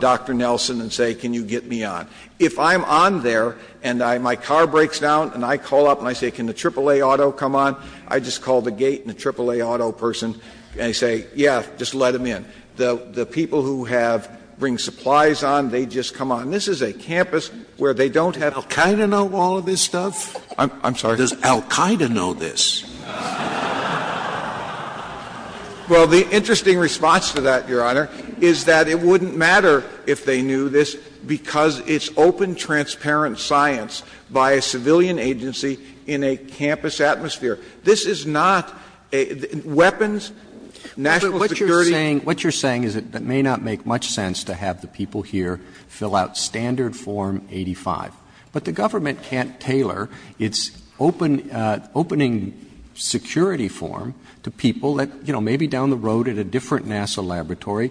Dr. Nelson and say, can you get me on. If I'm on there and I — my car breaks down and I call up and I say, can the triple-A auto come on, I just call the gate and the triple-A auto person and I say, yeah, just let them in. The people who have — bring supplies on, they just come on. This is a campus where they don't have— Scalia Does Al-Qaida know all of this stuff? I'm sorry. Scalia Does Al-Qaida know this? Scalia Well, the interesting response to that, Your Honor, is that it wouldn't matter if they knew this, because it's open, transparent science by a civilian agency in a campus atmosphere. This is not a — weapons, national security— Roberts What you're saying is that it may not make much sense to have the people here fill out Standard Form 85. But the government can't tailor its open — opening security form to people that, you know, maybe down the road at a different NASA laboratory,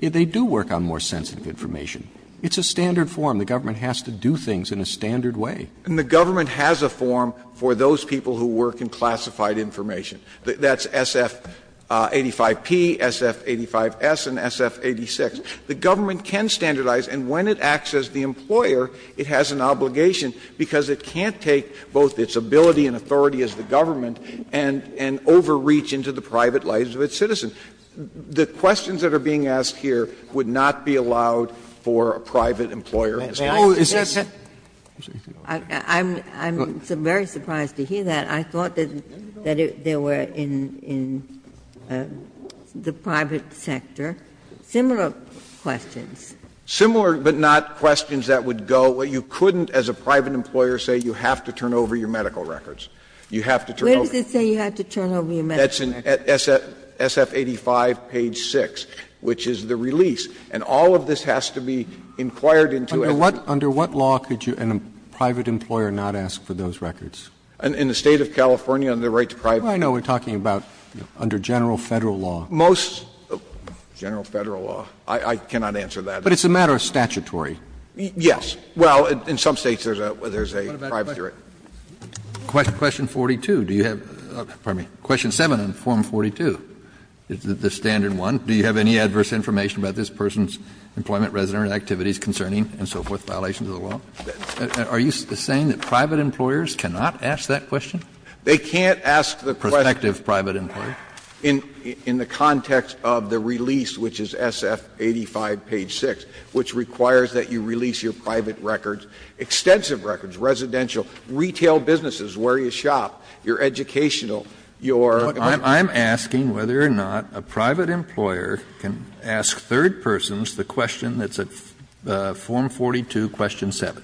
they do work on more sensitive information. It's a standard form. The government has to do things in a standard way. Scalia And the government has a form for those people who work in classified information. That's SF-85P, SF-85S, and SF-86. The government can standardize, and when it acts as the employer, it has an obligation, because it can't take both its ability and authority as the government and — and overreach into the private lives of its citizens. The questions that are being asked here would not be allowed for a private employer as well. Ginsburg I'm — I'm very surprised to hear that. I thought that — that there were in — in the private sector similar questions. Scalia Similar, but not questions that would go — you couldn't, as a private employer, say you have to turn over your medical records. You have to turn over— Ginsburg What does it say you have to turn over your medical records? Scalia That's in SF-85 page 6, which is the release. And all of this has to be inquired into as— Roberts Under what — under what law could you, as a private employer, not ask for those records? Scalia In the State of California, under the right to private— Roberts I know we're talking about under general Federal law. Scalia Most — general Federal law. I cannot answer that. Roberts But it's a matter of statutory. Scalia Yes. Well, in some States there's a — there's a private jury. Kennedy Question 42, do you have — pardon me, question 7 on form 42, the standard one. Do you have any adverse information about this person's employment, resident activities concerning, and so forth, violations of the law? Are you saying that private employers cannot ask that question? Scalia They can't ask the question— Kennedy Prospective private employer. Scalia — in the context of the release, which is SF-85 page 6, which requires that you release your private records, extensive records, residential, retail businesses, where you shop, your educational, your— Kennedy I'm asking whether or not a private employer can ask third persons the question that's at form 42, question 7.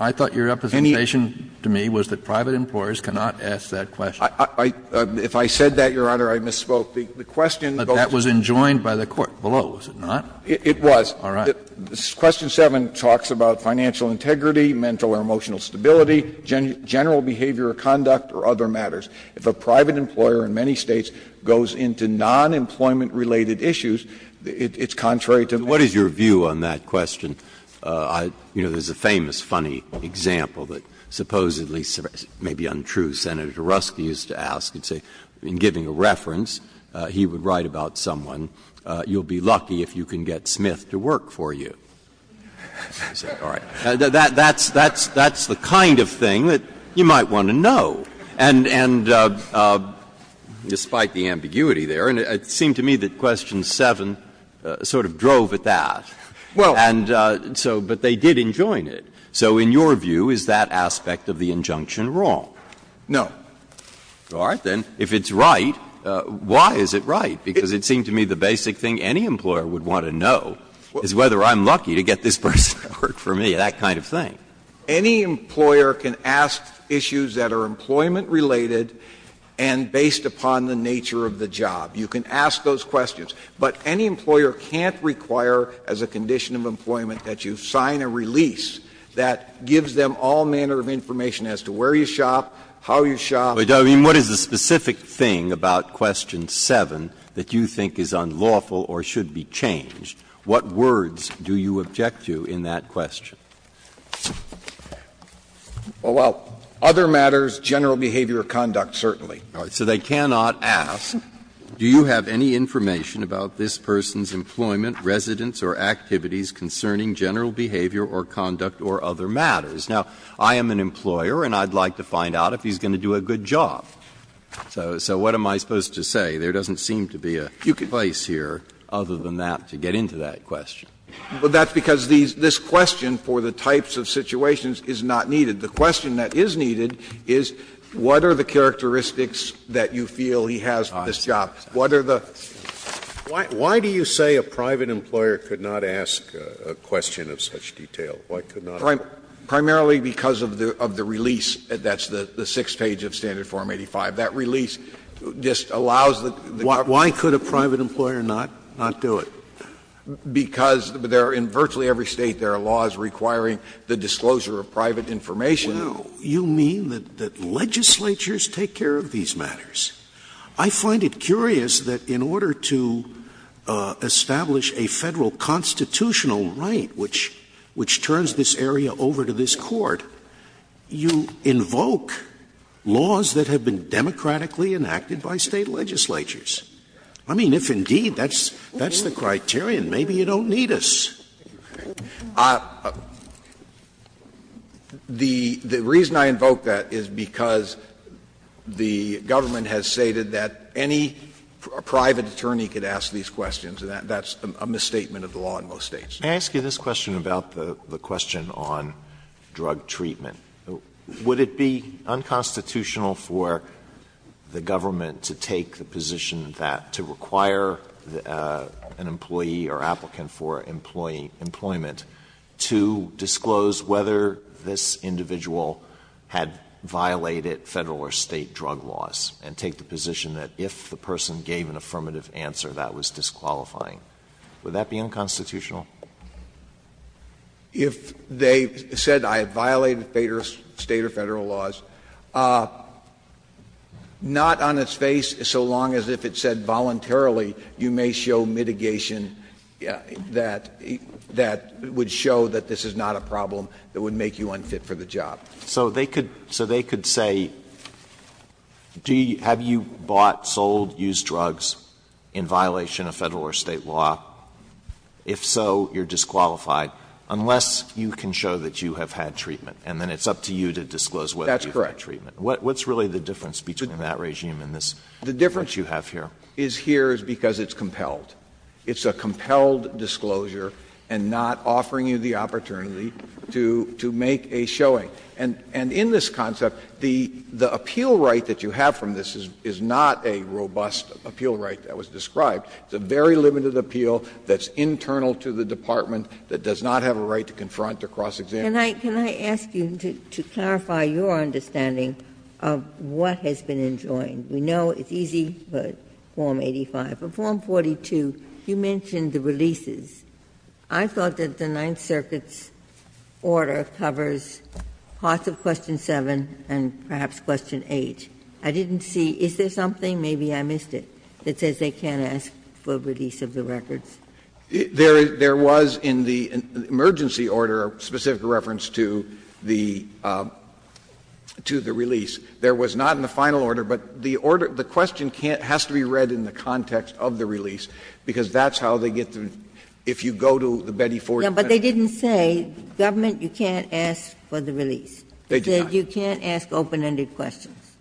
I thought your representation to me was that private employers cannot ask that question. Scalia If I said that, Your Honor, I misspoke. The question— Kennedy But that was enjoined by the court below, was it not? Scalia It was. Kennedy All right. Question 7 talks about financial integrity, mental or emotional stability, general behavior or conduct, or other matters. If a private employer in many States goes into non-employment-related issues, it's contrary to— Breyer What is your view on that question? You know, there's a famous funny example that supposedly may be untrue. Senator Ruski used to ask and say, in giving a reference, he would write about someone, you'll be lucky if you can get Smith to work for you. All right. That's the kind of thing that you might want to know. And despite the ambiguity there, it seemed to me that question 7 sort of drove at that. And so, but they did enjoin it. So in your view, is that aspect of the injunction wrong? Scalia No. Breyer All right, then. If it's right, why is it right? Because it seemed to me the basic thing any employer would want to know is whether I'm lucky to get this person to work for me, that kind of thing. Scalia Any employer can ask issues that are employment-related and based upon the nature of the job. You can ask those questions. But any employer can't require, as a condition of employment, that you sign a release that gives them all manner of information as to where you shop, how you shop. Breyer What is the specific thing about question 7 that you think is unlawful or should be changed? What words do you object to in that question? Scalia Well, other matters, general behavior or conduct, certainly. Breyer So they cannot ask, do you have any information about this person's employment, residence, or activities concerning general behavior or conduct or other matters? Now, I am an employer, and I'd like to find out if he's going to do a good job. So what am I supposed to say? There doesn't seem to be a place here other than that to get into that question. Scalia Well, that's because this question for the types of situations is not needed. The question that is needed is what are the characteristics that you feel he has for this job? What are the others? Scalia Why do you say a private employer could not ask a question of such detail? Why could not? Breyer Primarily because of the release, that's the sixth page of Standard Form 85. That release just allows the government to do it. Scalia Why could a private employer not do it? Breyer Because in virtually every State there are laws requiring the disclosure of private information. Scalia Well, you mean that legislatures take care of these matters. I find it curious that in order to establish a Federal constitutional right which turns this area over to this Court, you invoke laws that have been democratically enacted by State legislatures. I mean, if indeed that's the criterion, maybe you don't need us. Breyer The reason I invoke that is because the government has stated that any private attorney could ask these questions, and that's a misstatement of the law in most States. Alito May I ask you this question about the question on drug treatment? Would it be unconstitutional for the government to take the position that to require an employee or applicant for employment to disclose whether this individual had violated Federal or State drug laws, and take the position that if the person gave an affirmative answer, that was disqualifying? Would that be unconstitutional? Breyer If they said I violated State or Federal laws, not on its face, so long as if it said voluntarily, you may show mitigation that would show that this is not a problem that would make you unfit for the job. Alito May So they could say, have you bought, sold, used drugs in violation of Federal or State law? If so, you're disqualified, unless you can show that you have had treatment, and then it's up to you to disclose whether you had treatment. Breyer That's correct. Alito May What's really the difference between that regime and this regime that you have here? Breyer The difference is here is because it's compelled. It's a compelled disclosure, and not offering you the opportunity to make a showing. And in this concept, the appeal right that you have from this is not a robust appeal right that was described. It's a very limited appeal that's internal to the department, that does not have a right to confront or cross-examine. Ginsburg Can I ask you to clarify your understanding of what has been enjoined? We know it's easy, but form 85. But form 42, you mentioned the releases. I thought that the Ninth Circuit's order covers parts of question 7 and perhaps question 8. I didn't see – is there something, maybe I missed it, that says they can't ask for release of the records? Breyer There was in the emergency order a specific reference to the release. There was not in the final order, but the order – the question has to be read in the If you go to the Betty Ford – Ginsburg No, but they didn't say, Government, you can't ask for the release. Breyer They did not. Ginsburg They said you can't ask open-ended questions.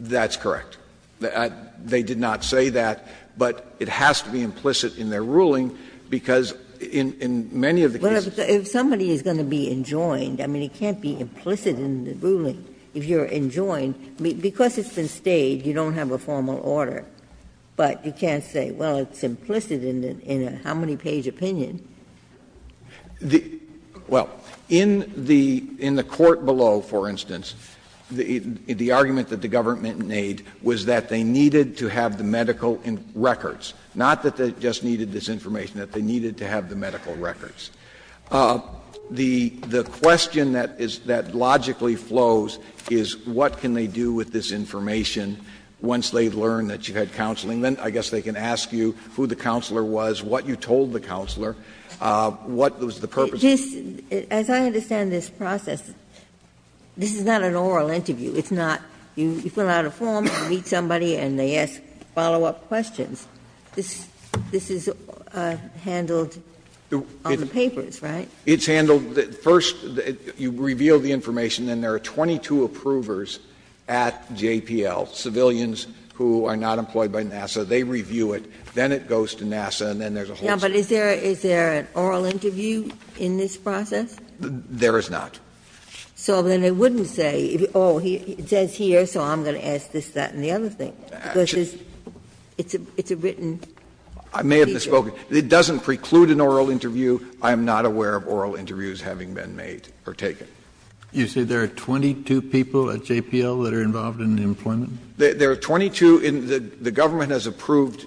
Breyer That's correct. They did not say that, but it has to be implicit in their ruling, because in many of the cases – Ginsburg Well, if somebody is going to be enjoined, I mean, it can't be implicit in the ruling. If you're enjoined, because it's been stayed, you don't have a formal order. But you can't say, well, it's implicit in a how-many-page opinion. Breyer Well, in the court below, for instance, the argument that the government made was that they needed to have the medical records, not that they just needed this information, that they needed to have the medical records. The question that logically flows is what can they do with this information once they learn that you had counseling? Then I guess they can ask you who the counselor was, what you told the counselor, what was the purpose of it. Ginsburg Just, as I understand this process, this is not an oral interview. It's not you fill out a form, you meet somebody, and they ask follow-up questions. This is handled on the papers, right? Breyer It's handled – first, you reveal the information, and there are 22 approvers at JPL, civilians who are not employed by NASA. They review it, then it goes to NASA, and then there's a whole set of people. Ginsburg Yeah, but is there an oral interview in this process? Breyer There is not. Ginsburg So then they wouldn't say, oh, it says here, so I'm going to ask this, that, and the other thing, because it's a written feature. Breyer I may have misspoken. It doesn't preclude an oral interview. I am not aware of oral interviews having been made or taken. Kennedy You say there are 22 people at JPL that are involved in the employment? Breyer There are 22. The government has approved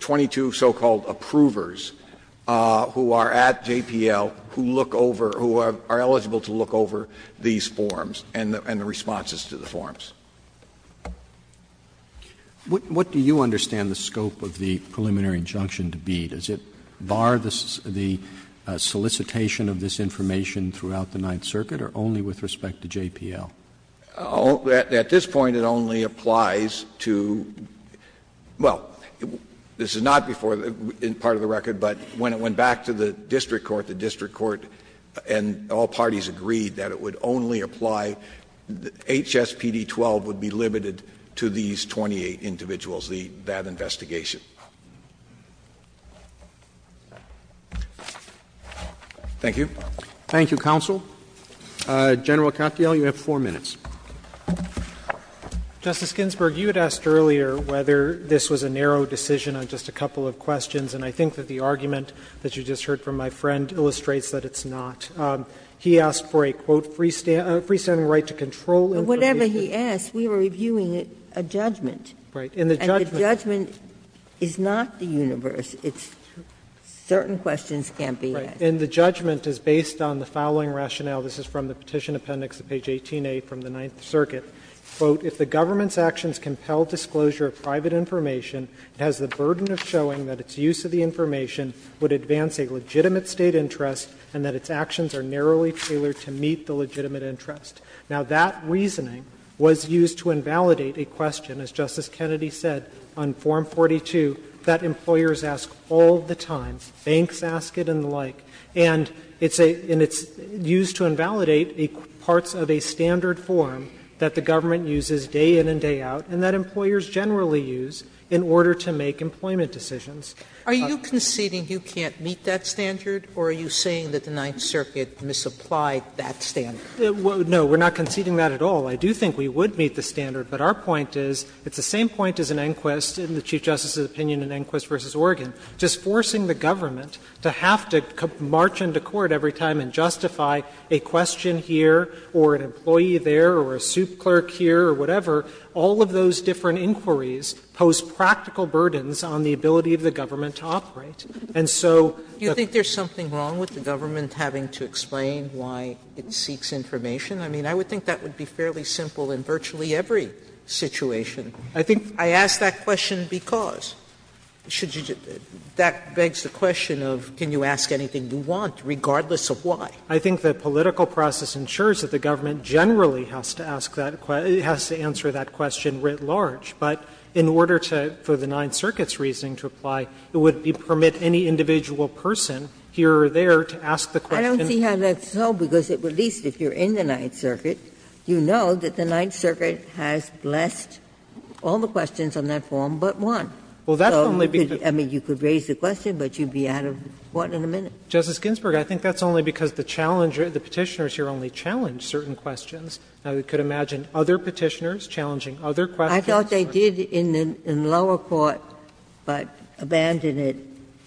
22 so-called approvers who are at JPL who look over – who are eligible to look over these forms and the responses to the forms. Roberts What do you understand the scope of the preliminary injunction to be? Does it bar the solicitation of this information throughout the Ninth Circuit or only with respect to JPL? Breyer At this point, it only applies to – well, this is not before part of the record, but when it went back to the district court, the district court and all parties agreed that it would only apply – HSPD 12 would be limited to these 28 individuals, that investigation. Roberts Thank you. Thank you, counsel. General Katyal, you have 4 minutes. Katyal Justice Ginsburg, you had asked earlier whether this was a narrow decision on just a couple of questions, and I think that the argument that you just heard from my friend illustrates that it's not. He asked for a, quote, free standing right to control information. Ginsburg But whatever he asked, we were reviewing a judgment. Katyal Right. And the judgment is not the universe. It's certain questions can't be asked. Katyal And the judgment is based on the following rationale. This is from the Petition Appendix at page 18A from the Ninth Circuit. Quote, If the government's actions compel disclosure of private information, it has the burden of showing that its use of the information would advance a legitimate State interest and that its actions are narrowly tailored to meet the legitimate interest. Now, that reasoning was used to invalidate a question, as Justice Kennedy said, on Form 42, that employers ask all the time, banks ask it and the like. And it's a – and it's used to invalidate parts of a standard form that the government uses day in and day out and that employers generally use in order to make employment decisions. Sotomayor Are you conceding you can't meet that standard, or are you saying that the Ninth Circuit misapplied that standard? Katyal No, we're not conceding that at all. I do think we would meet the standard, but our point is, it's the same point as in Enquist, in the Chief Justice's opinion in Enquist v. Oregon, just forcing the government to have to march into court every time and justify a question here or an employee there or a soup clerk here or whatever. All of those different inquiries pose practical burdens on the ability of the government to operate. And so the – Sotomayor Do you think there's something wrong with the government having to explain why it seeks information? I mean, I would think that would be fairly simple in virtually every situation. Katyal I think Sotomayor I ask that question because. That begs the question of, can you ask anything you want, regardless of why? Katyal I think the political process ensures that the government generally has to ask that – has to answer that question writ large. But in order to, for the Ninth Circuit's reasoning to apply, it would permit any individual person here or there to ask the question. Ginsburg I don't see how that's so, because at least if you're in the Ninth Circuit, you know that the Ninth Circuit has blessed all the questions on that form but one. Katyal Well, that's only because. Ginsburg I mean, you could raise the question, but you'd be out of court in a minute. Katyal Justice Ginsburg, I think that's only because the challenger, the Petitioners here only challenged certain questions. Now, we could imagine other Petitioners challenging other questions. Ginsburg I thought they did in the lower court, but abandoned it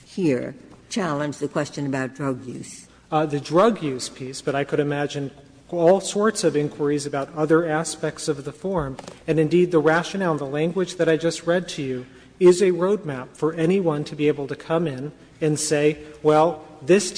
here, challenge the question about drug use. Katyal The drug use piece, but I could imagine all sorts of inquiries about other aspects of the form. And indeed, the rationale, the language that I just read to you is a road map for anyone to be able to come in and say, well, this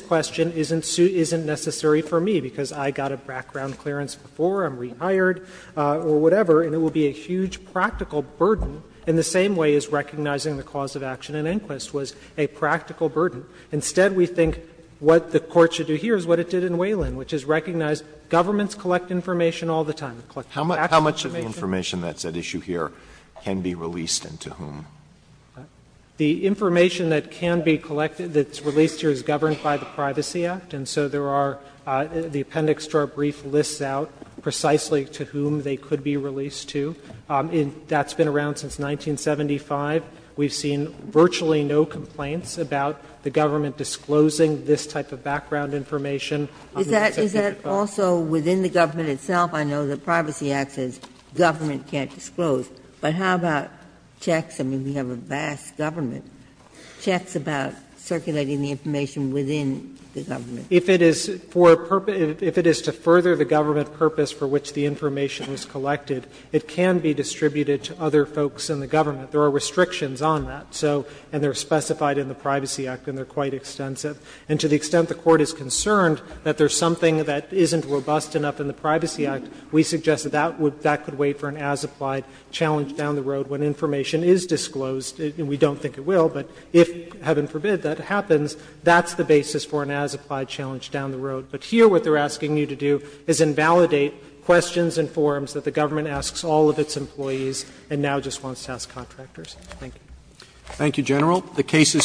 question isn't necessary for me, because I got a background clearance before, I'm rehired, or whatever, and it would be a huge practical burden in the same way as recognizing the cause of action in Inquist was a practical burden. Instead, we think what the Court should do here is what it did in Wayland, which is recognize governments collect information all the time. Alito How much of the information that's at issue here can be released and to whom? Katyal The information that can be collected, that's released here, is governed by the Privacy Act, and so there are the appendix to our brief lists out precisely to whom they could be released to. That's been around since 1975. We've seen virtually no complaints about the government disclosing this type of background information. Ginsburg Is that also within the government itself? I know the Privacy Act says government can't disclose, but how about checks? I mean, we have a vast government. Checks about circulating the information within the government. Katyal If it is for a purpose to further the government purpose for which the information was collected, it can be distributed to other folks in the government. There are restrictions on that, so, and they're specified in the Privacy Act and they're quite extensive. And to the extent the Court is concerned that there's something that isn't robust enough in the Privacy Act, we suggest that that could wait for an as-applied challenge down the road when information is disclosed. We don't think it will, but if, heaven forbid, that happens, that's the basis for an as-applied challenge down the road. But here what they're asking you to do is invalidate questions and forms that the Thank you. Roberts Thank you, General. The case is submitted.